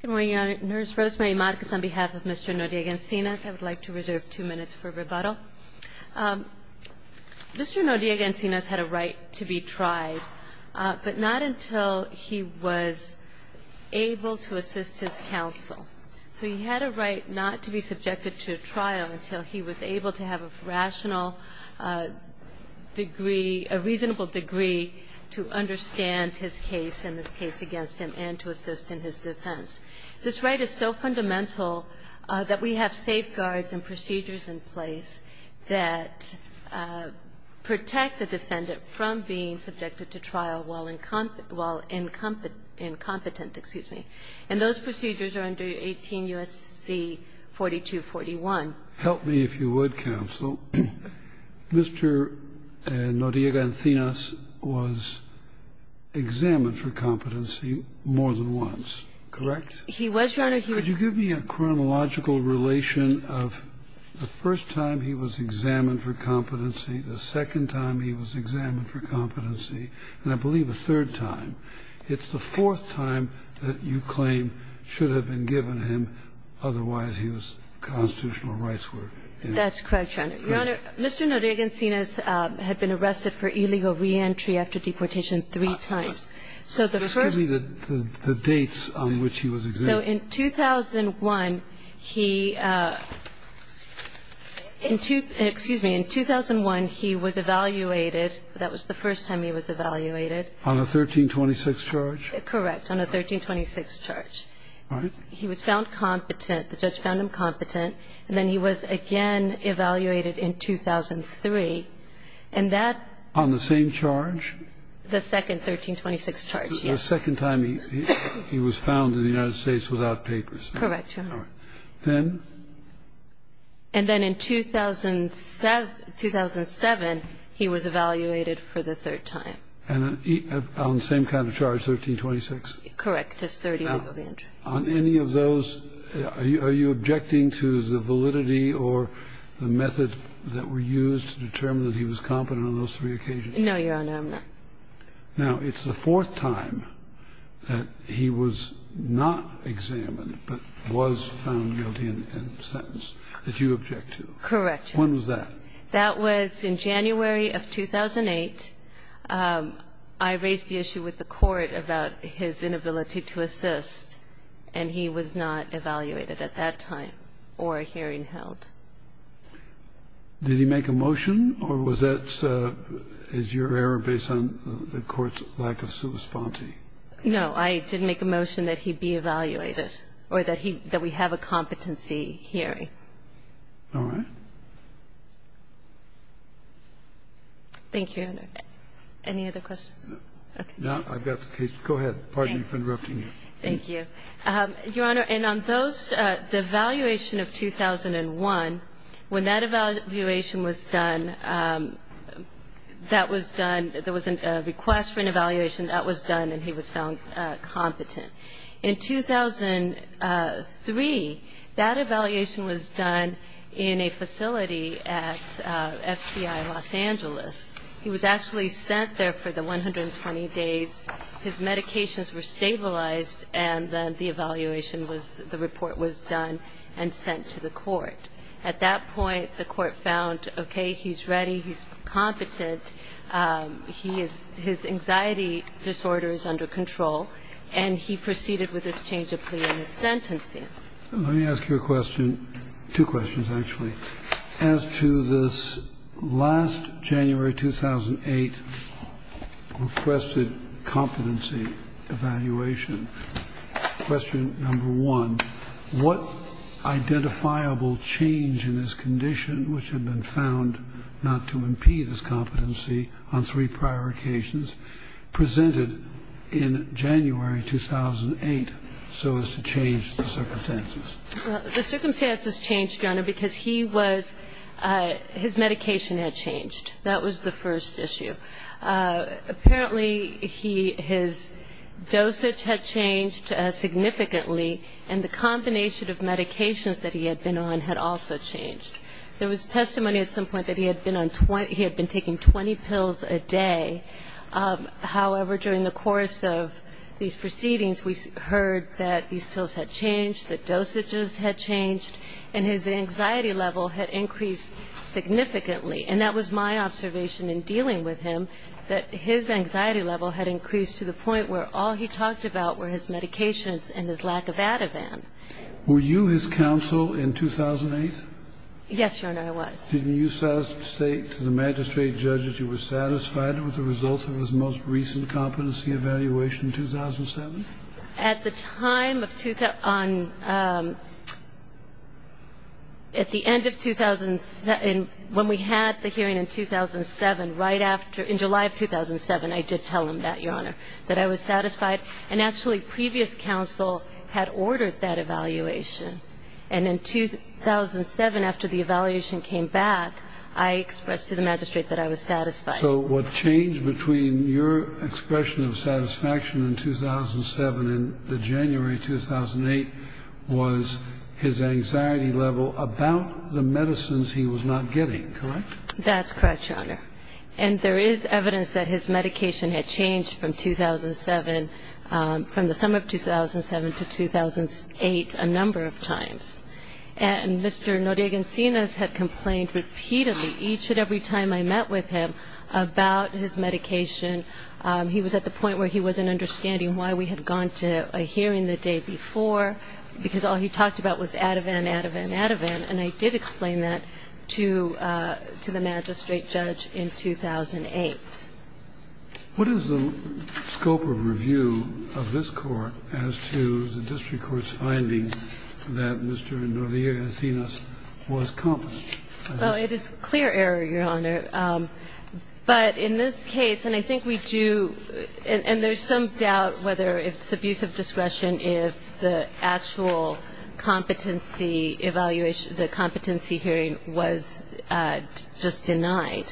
Good morning, Your Honor. Nurse Rosemary Marquez on behalf of Mr. Noriega-Encinas. I would like to reserve two minutes for rebuttal. Mr. Noriega-Encinas had a right to be tried, but not until he was able to assist his counsel. So he had a right not to be subjected to a trial until he was able to have a rational degree, to understand his case and his case against him, and to assist in his defense. This right is so fundamental that we have safeguards and procedures in place that protect a defendant from being subjected to trial while incompetent. And those procedures are under 18 U.S.C. 4241. Help me if you would, counsel. Mr. Noriega-Encinas was examined for competency more than once, correct? He was, Your Honor. Could you give me a chronological relation of the first time he was examined for competency, the second time he was examined for competency, and I believe the third time. It's the fourth time that you claim should have been given him, otherwise he was constitutional rights were in. That's correct, Your Honor. Your Honor, Mr. Noriega-Encinas had been arrested for illegal reentry after deportation three times. So the first. Just give me the dates on which he was examined. So in 2001, he – excuse me. In 2001, he was evaluated. That was the first time he was evaluated. On a 1326 charge? Correct. On a 1326 charge. All right. He was found competent. The judge found him competent. And then he was again evaluated in 2003. And that. On the same charge? The second 1326 charge, yes. The second time he was found in the United States without papers. Correct, Your Honor. All right. Then? And then in 2007, he was evaluated for the third time. And on the same kind of charge, 1326? Correct. Just 30 legal reentry. On any of those, are you objecting to the validity or the methods that were used to determine that he was competent on those three occasions? No, Your Honor, I'm not. Now, it's the fourth time that he was not examined but was found guilty and sentenced that you object to. Correct, Your Honor. When was that? That was in January of 2008. I raised the issue with the court about his inability to assist, and he was not evaluated at that time or a hearing held. Did he make a motion? Or was that as your error based on the court's lack of substantive? No, I didn't make a motion that he be evaluated or that we have a competency hearing. All right. Thank you, Your Honor. Any other questions? No, I've got the case. Go ahead. Pardon me for interrupting you. Thank you. Your Honor, and on those, the evaluation of 2001, when that evaluation was done, that was done, there was a request for an evaluation. That was done, and he was found competent. In 2003, that evaluation was done in a facility at FCI Los Angeles. He was actually sent there for the 120 days. His medications were stabilized, and then the evaluation was the report was done and sent to the court. At that point, the court found, okay, he's ready, he's competent, his anxiety disorder is under control, and he proceeded with his change of plea and his sentencing. Let me ask you a question, two questions, actually. As to this last January 2008 requested competency evaluation, question number one, what identifiable change in his condition, which had been found not to impede his competency on three prior occasions, presented in January 2008 so as to change the circumstances? The circumstances changed, Your Honor, because he was, his medication had changed. That was the first issue. Apparently, he, his dosage had changed significantly, and the combination of medications that he had been on had also changed. There was testimony at some point that he had been on, he had been taking 20 pills a day. However, during the course of these proceedings, we heard that these pills had changed, that dosages had changed, and his anxiety level had increased significantly. And that was my observation in dealing with him, that his anxiety level had increased to the point where all he talked about were his medications and his lack of Ativan. Were you his counsel in 2008? Yes, Your Honor, I was. Did you say to the magistrate judge that you were satisfied with the results of his most recent competency evaluation in 2007? At the time of, on, at the end of 2007, when we had the hearing in 2007, right after, in July of 2007, I did tell him that, Your Honor, that I was satisfied. And actually, previous counsel had ordered that evaluation. And in 2007, after the evaluation came back, I expressed to the magistrate that I was satisfied. So what changed between your expression of satisfaction in 2007 and the January 2008 was his anxiety level about the medicines he was not getting, correct? That's correct, Your Honor. And there is evidence that his medication had changed from 2007, from the summer of 2007 to 2008 a number of times. And Mr. Noriega Encinas had complained repeatedly each and every time I met with him about his medication. He was at the point where he wasn't understanding why we had gone to a hearing the day before, because all he talked about was Ativan, Ativan, Ativan. And I did explain that to the magistrate judge in 2008. What is the scope of review of this Court as to the district court's findings that Mr. Noriega Encinas was competent? Well, it is clear error, Your Honor. But in this case, and I think we do – and there's some doubt whether it's abusive discretion if the actual competency evaluation, the competency hearing was just denied.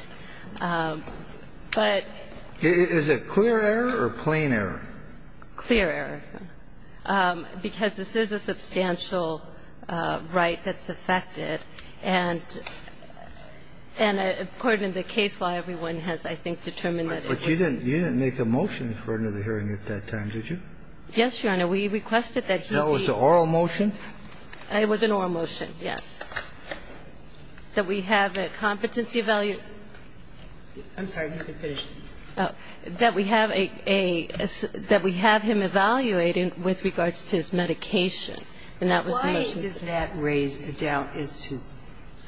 But... Is it clear error or plain error? Clear error. Because this is a substantial right that's affected. And according to the case law, everyone has, I think, determined that it is. But you didn't make a motion according to the hearing at that time, did you? Yes, Your Honor. We requested that he be... That was an oral motion? It was an oral motion, yes. That we have a competency evaluation. I'm sorry. You can finish. That we have a – that we have him evaluated with regards to his medication. And that was the motion. Why does that raise a doubt as to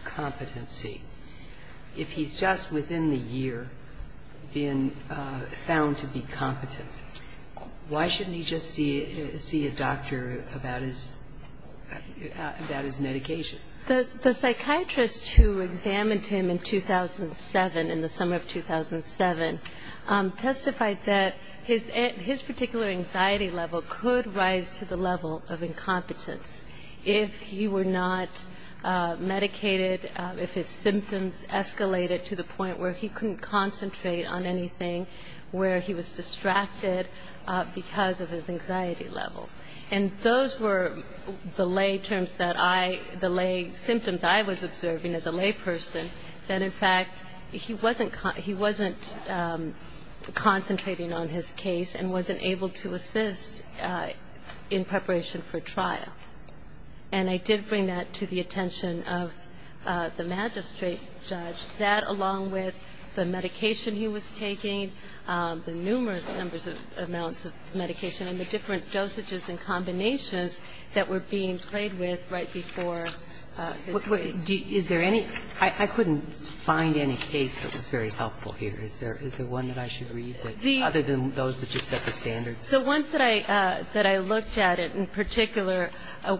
competency? If he's just within the year being found to be competent, why shouldn't he just see a doctor about his – about his medication? The psychiatrist who examined him in 2007, in the summer of 2007, testified that his particular anxiety level could rise to the level of incompetence if he were not medicated, if his symptoms escalated to the point where he couldn't concentrate on anything, where he was distracted because of his anxiety level. And those were the lay terms that I – the lay symptoms I was observing as a lay person, that, in fact, he wasn't concentrating on his case and wasn't able to assist in preparation for trial. And I did bring that to the attention of the magistrate judge, that along with the medication he was taking, the numerous numbers of amounts of medication and the different dosages and combinations that were being played with right before his trial. Is there any – I couldn't find any case that was very helpful here. Is there one that I should read that – other than those that just set the standards? The ones that I – that I looked at in particular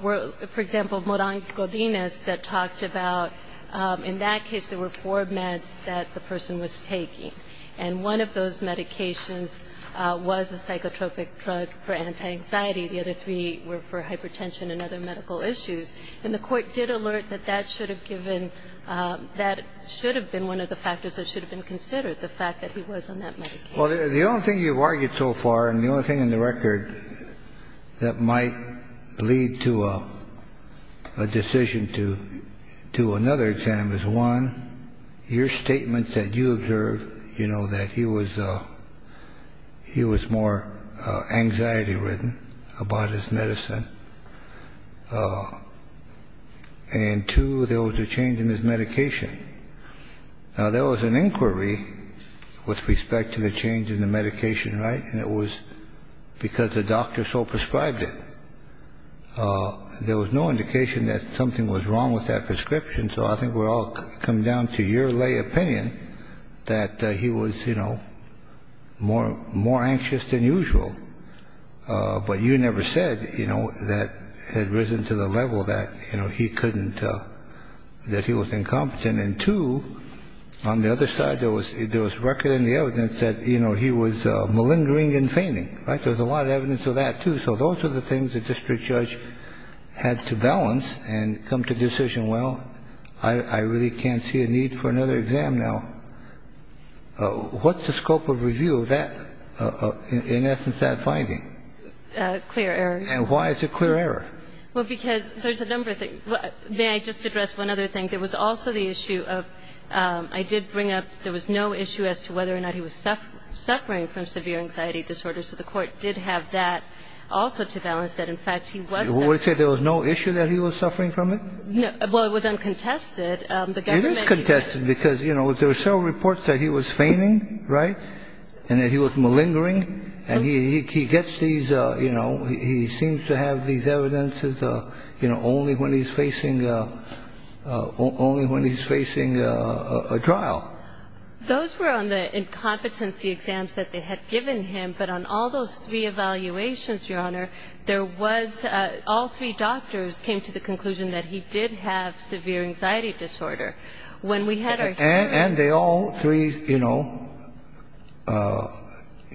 were, for example, Morant-Godinez that talked about – in that case, there were four meds that the person was taking. And one of those medications was a psychotropic drug for anti-anxiety. The other three were for hypertension and other medical issues. And the Court did alert that that should have given – that should have been one of the factors that should have been considered, the fact that he was on that medication. Well, the only thing you've argued so far, and the only thing in the record that might lead to a decision to do another exam is, one, your statements that you observed, you know, that he was – he was more anxiety-ridden about his medicine. And, two, there was a change in his medication. Now, there was an inquiry with respect to the change in the medication, right? And it was because the doctor so prescribed it. There was no indication that something was wrong with that prescription. So I think we're all coming down to your lay opinion that he was, you know, more anxious than usual. But you never said, you know, that – had risen to the level that, you know, he couldn't – that he was incompetent. And, two, on the other side, there was – there was record in the evidence that, you know, he was malingering and fainting, right? There was a lot of evidence of that, too. So those are the things the district judge had to balance and come to the decision, well, I really can't see a need for another exam now. What's the scope of review of that – in essence, that finding? Clear error. And why is it clear error? Well, because there's a number of things. May I just address one other thing? There was also the issue of – I did bring up – there was no issue as to whether or not he was suffering from severe anxiety disorder. So the court did have that also to balance, that, in fact, he was suffering. Would it say there was no issue that he was suffering from it? No. Well, it was uncontested. It is contested because, you know, there are several reports that he was fainting, right, and that he was malingering. And he gets these, you know, he seems to have these evidences, you know, only when he's facing a trial. Those were on the incompetency exams that they had given him. But on all those three evaluations, Your Honor, there was – all three doctors came to the conclusion that he did have severe anxiety disorder. And they all three, you know,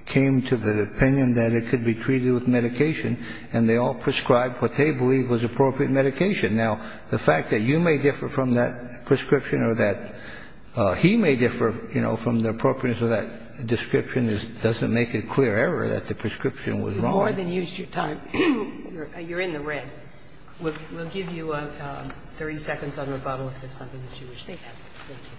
came to the opinion that it could be treated with medication. And they all prescribed what they believed was appropriate medication. Now, the fact that you may differ from that prescription or that he may differ, you know, from the appropriateness of that description doesn't make it clear error that the prescription was wrong. You've more than used your time. You're in the red. We'll give you 30 seconds on rebuttal if there's something that you wish to add. Thank you.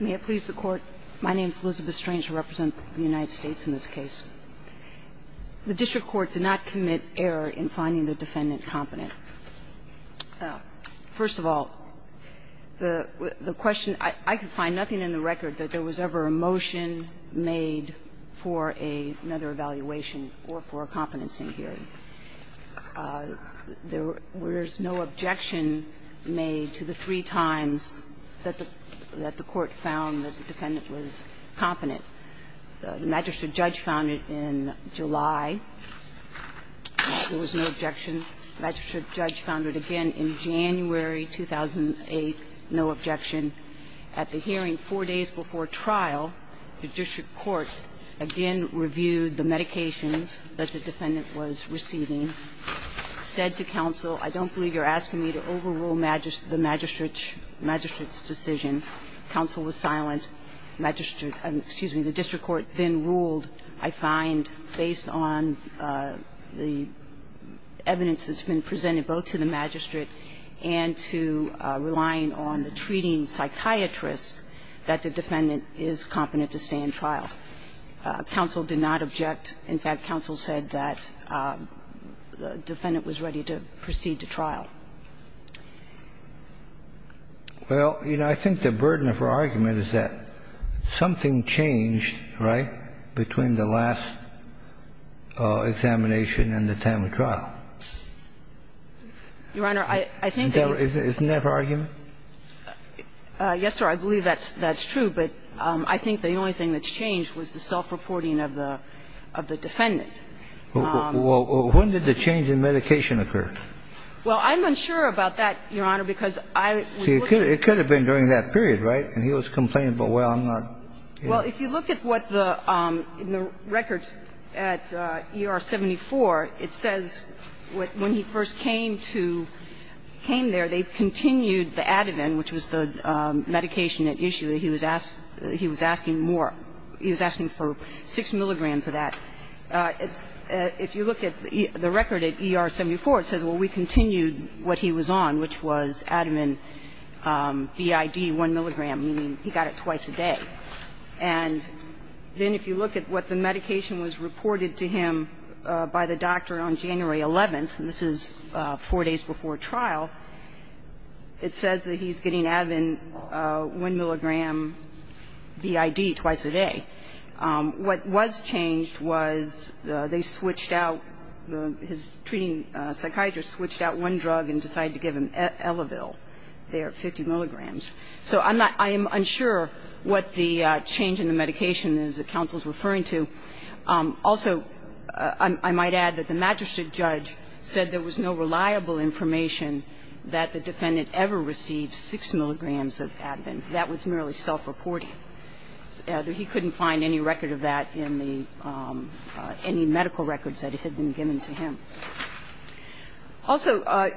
May it please the Court. My name is Elizabeth Strange. I represent the United States in this case. The district court did not commit error in finding the defendant competent. First of all, the question – I could find nothing in the record that there was ever a motion made for another evaluation or for a competency hearing. There was no objection made to the three times that the court found that the defendant was competent. The magistrate judge found it in July. There was no objection. The magistrate judge found it again in January 2008, no objection. At the hearing four days before trial, the district court again reviewed the medications that the defendant was receiving, said to counsel, I don't believe you're asking me to overrule the magistrate's decision. Counsel was silent. Magistrate – excuse me. The district court then ruled, I find, based on the evidence that's been presented both to the magistrate and to relying on the treating psychiatrist, that the defendant is competent to stay in trial. Counsel did not object. In fact, counsel said that the defendant was ready to proceed to trial. Well, you know, I think the burden of her argument is that something changed, right, between the last examination and the time of trial. Your Honor, I think that you – Isn't that her argument? Yes, sir. I believe that's true. But I think the only thing that's changed was the self-reporting of the defendant. Well, when did the change in medication occur? Well, I'm unsure about that, Your Honor, because I was looking at the records. It could have been during that period, right? And he was complaining, but, well, I'm not. Well, if you look at what the – in the records at ER-74, it says when he first came to – came there, they continued the Ativan, which was the medication at issue that he was asking more. He was asking for 6 milligrams of that. If you look at the record at ER-74, it says, well, we continued what he was on, which was Ativan BID 1 milligram, meaning he got it twice a day. And then if you look at what the medication was reported to him by the doctor on January 11th, and this is 4 days before trial, it says that he's getting What was changed was they switched out – his treating psychiatrist switched out one drug and decided to give him Elevil. They are 50 milligrams. So I'm not – I am unsure what the change in the medication is that counsel is referring to. Also, I might add that the magistrate judge said there was no reliable information that the defendant ever received 6 milligrams of Ativan. That was merely self-reporting. He couldn't find any record of that in the – any medical records that had been given to him. Also,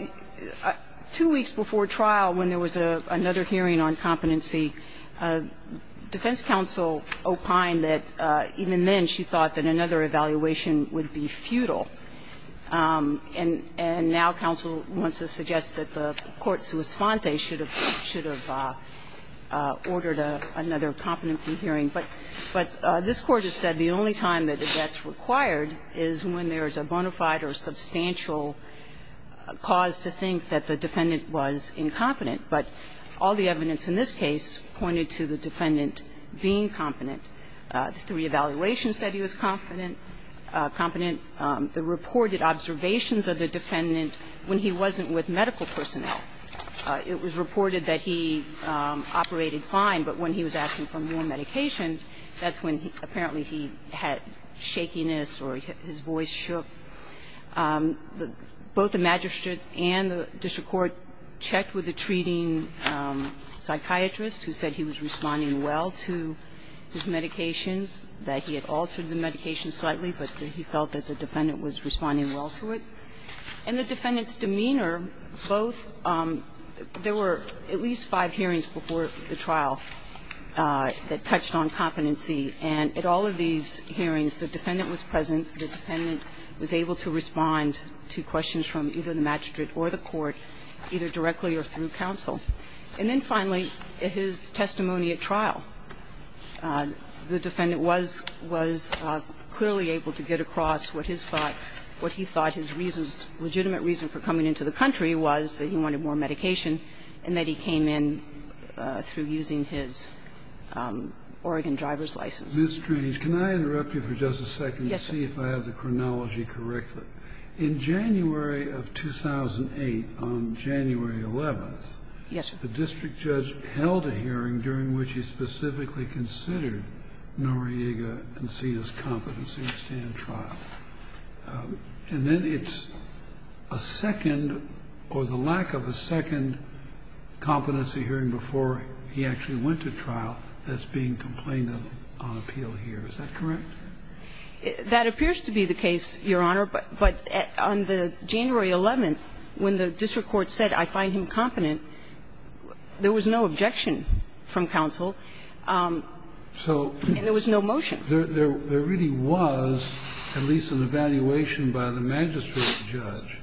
two weeks before trial, when there was another hearing on competency, defense counsel opined that even then she thought that another evaluation would be futile. And now counsel wants to suggest that the court sui sfonte should have ordered another competency hearing. But this Court has said the only time that that's required is when there's a bona fide or substantial cause to think that the defendant was incompetent. But all the evidence in this case pointed to the defendant being competent. The three evaluations said he was competent. The reported observations of the defendant when he wasn't with medical personnel. It was reported that he operated fine, but when he was asking for more medication, that's when apparently he had shakiness or his voice shook. Both the magistrate and the district court checked with the treating psychiatrist who said he was responding well to his medications, that he had altered the medication slightly, but that he felt that the defendant was responding well to it. In the defendant's demeanor, both there were at least five hearings before the trial that touched on competency, and at all of these hearings, the defendant was present. The defendant was able to respond to questions from either the magistrate or the court, either directly or through counsel. And then finally, his testimony at trial. The defendant was clearly able to get across what his thought, what he thought his reasons, legitimate reason for coming into the country was, that he wanted more medication, and that he came in through using his Oregon driver's license. Kennedy, can I interrupt you for just a second to see if I have the chronology correctly? In January of 2008, on January 11th, the district judge held a hearing during which he specifically considered Noriega and Sina's competency at stand trial. And then it's a second, or the lack of a second, competency hearing before he actually went to trial that's being complained of on appeal here. Is that correct? That appears to be the case, Your Honor, but on the January 11th, when the district court said, I find him competent, there was no objection from counsel. And there was no motion. So there really was at least an evaluation by the magistrate judge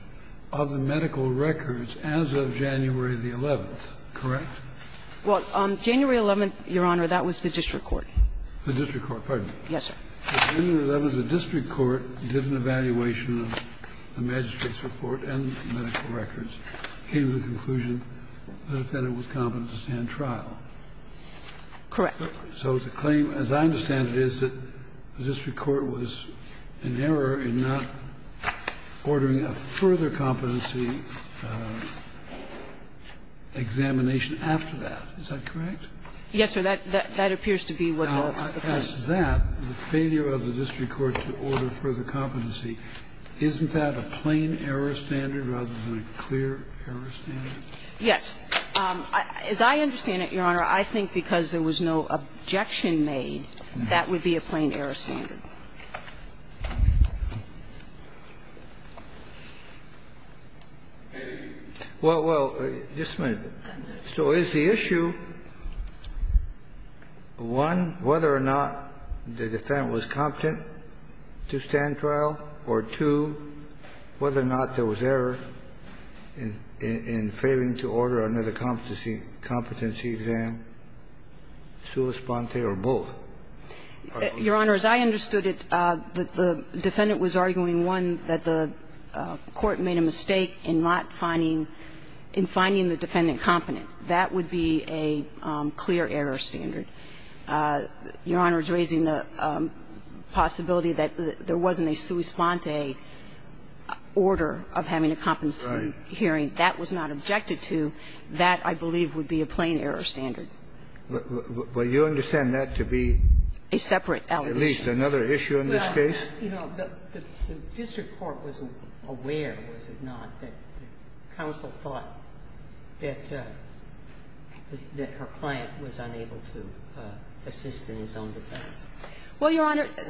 of the medical records as of January the 11th, correct? Well, on January 11th, Your Honor, that was the district court. The district court, pardon me. Yes, sir. On January 11th, the district court did an evaluation of the magistrate's report and medical records, came to the conclusion that the defendant was competent at stand trial. Correct. So the claim, as I understand it, is that the district court was in error in not ordering a further competency examination after that. Is that correct? Yes, sir. That appears to be what you're saying. Now, as to that, the failure of the district court to order further competency, isn't that a plain-error standard rather than a clear-error standard? Yes. As I understand it, Your Honor, I think because there was no objection made, that would be a plain-error standard. Well, well, just a minute. So is the issue, one, whether or not the defendant was competent to stand trial? Or, two, whether or not there was error in failing to order another competency exam, sua sponte, or both? Your Honor, as I understood it, the defendant was arguing, one, that the court made a mistake in not finding, in finding the defendant competent. That would be a clear-error standard. Your Honor is raising the possibility that there wasn't a sua sponte order of having a competency hearing. That was not objected to. That, I believe, would be a plain-error standard. Well, you understand that to be a separate allegation? At least another issue in this case? Well, you know, the district court wasn't aware, was it not, that counsel thought that her client was unable to assist in his own defense? Well, Your Honor, the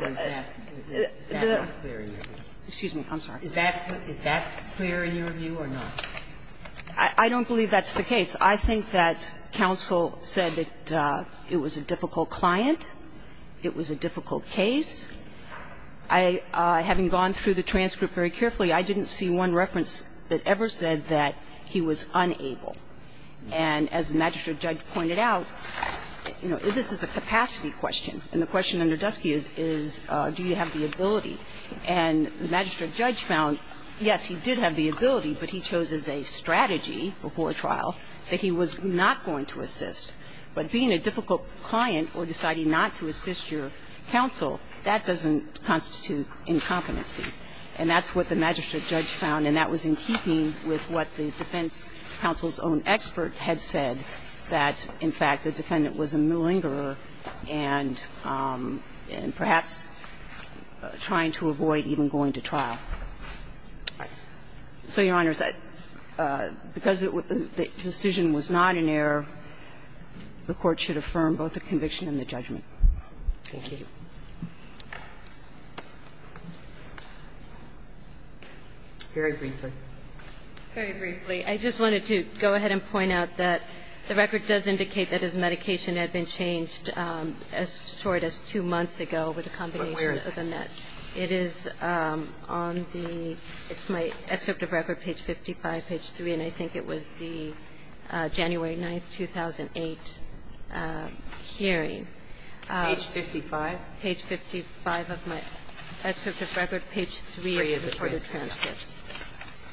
the Is that unclear in your view? Excuse me. I'm sorry. Is that clear in your view or not? I don't believe that's the case. I think that counsel said that it was a difficult client, it was a difficult case. I, having gone through the transcript very carefully, I didn't see one reference that ever said that he was unable. And as the magistrate judge pointed out, you know, this is a capacity question, and the question under Dusky is, do you have the ability? And the magistrate judge found, yes, he did have the ability, but he chose as a strategy before trial that he was not going to assist. But being a difficult client or deciding not to assist your counsel, that doesn't constitute incompetency. And that's what the magistrate judge found, and that was in keeping with what the defense counsel's own expert had said, that, in fact, the defendant was a malingerer and perhaps trying to avoid even going to trial. So, Your Honors, because the decision was not in error, the Court should affirm both the conviction and the judgment. Thank you. Very briefly. Very briefly. I just wanted to go ahead and point out that the record does indicate that his medication had been changed as short as two months ago with a combination of the meds. But where is that? It is on the ‑‑ it's my excerpt of record, page 55, page 3, and I think it was the January 9th, 2008 hearing. Page 55? Page 55. Page 55 of my excerpt of record, page 3 of the court's transcripts.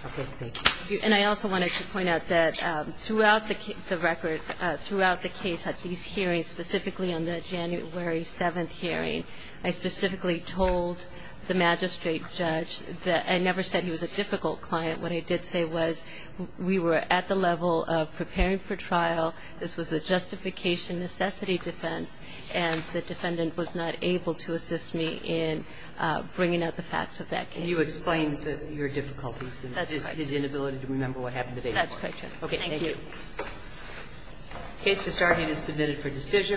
Okay. Thank you. And I also wanted to point out that throughout the record, throughout the case at these hearings, specifically on the January 7th hearing, I specifically told the magistrate judge that I never said he was a difficult client. What I did say was we were at the level of preparing for trial, this was a justification necessity defense, and the defendant was not able to assist me in bringing up the facts of that case. Can you explain your difficulties and his inability to remember what happened the day before? That's quite true. Okay. Thank you. Case to start here is submitted for decision.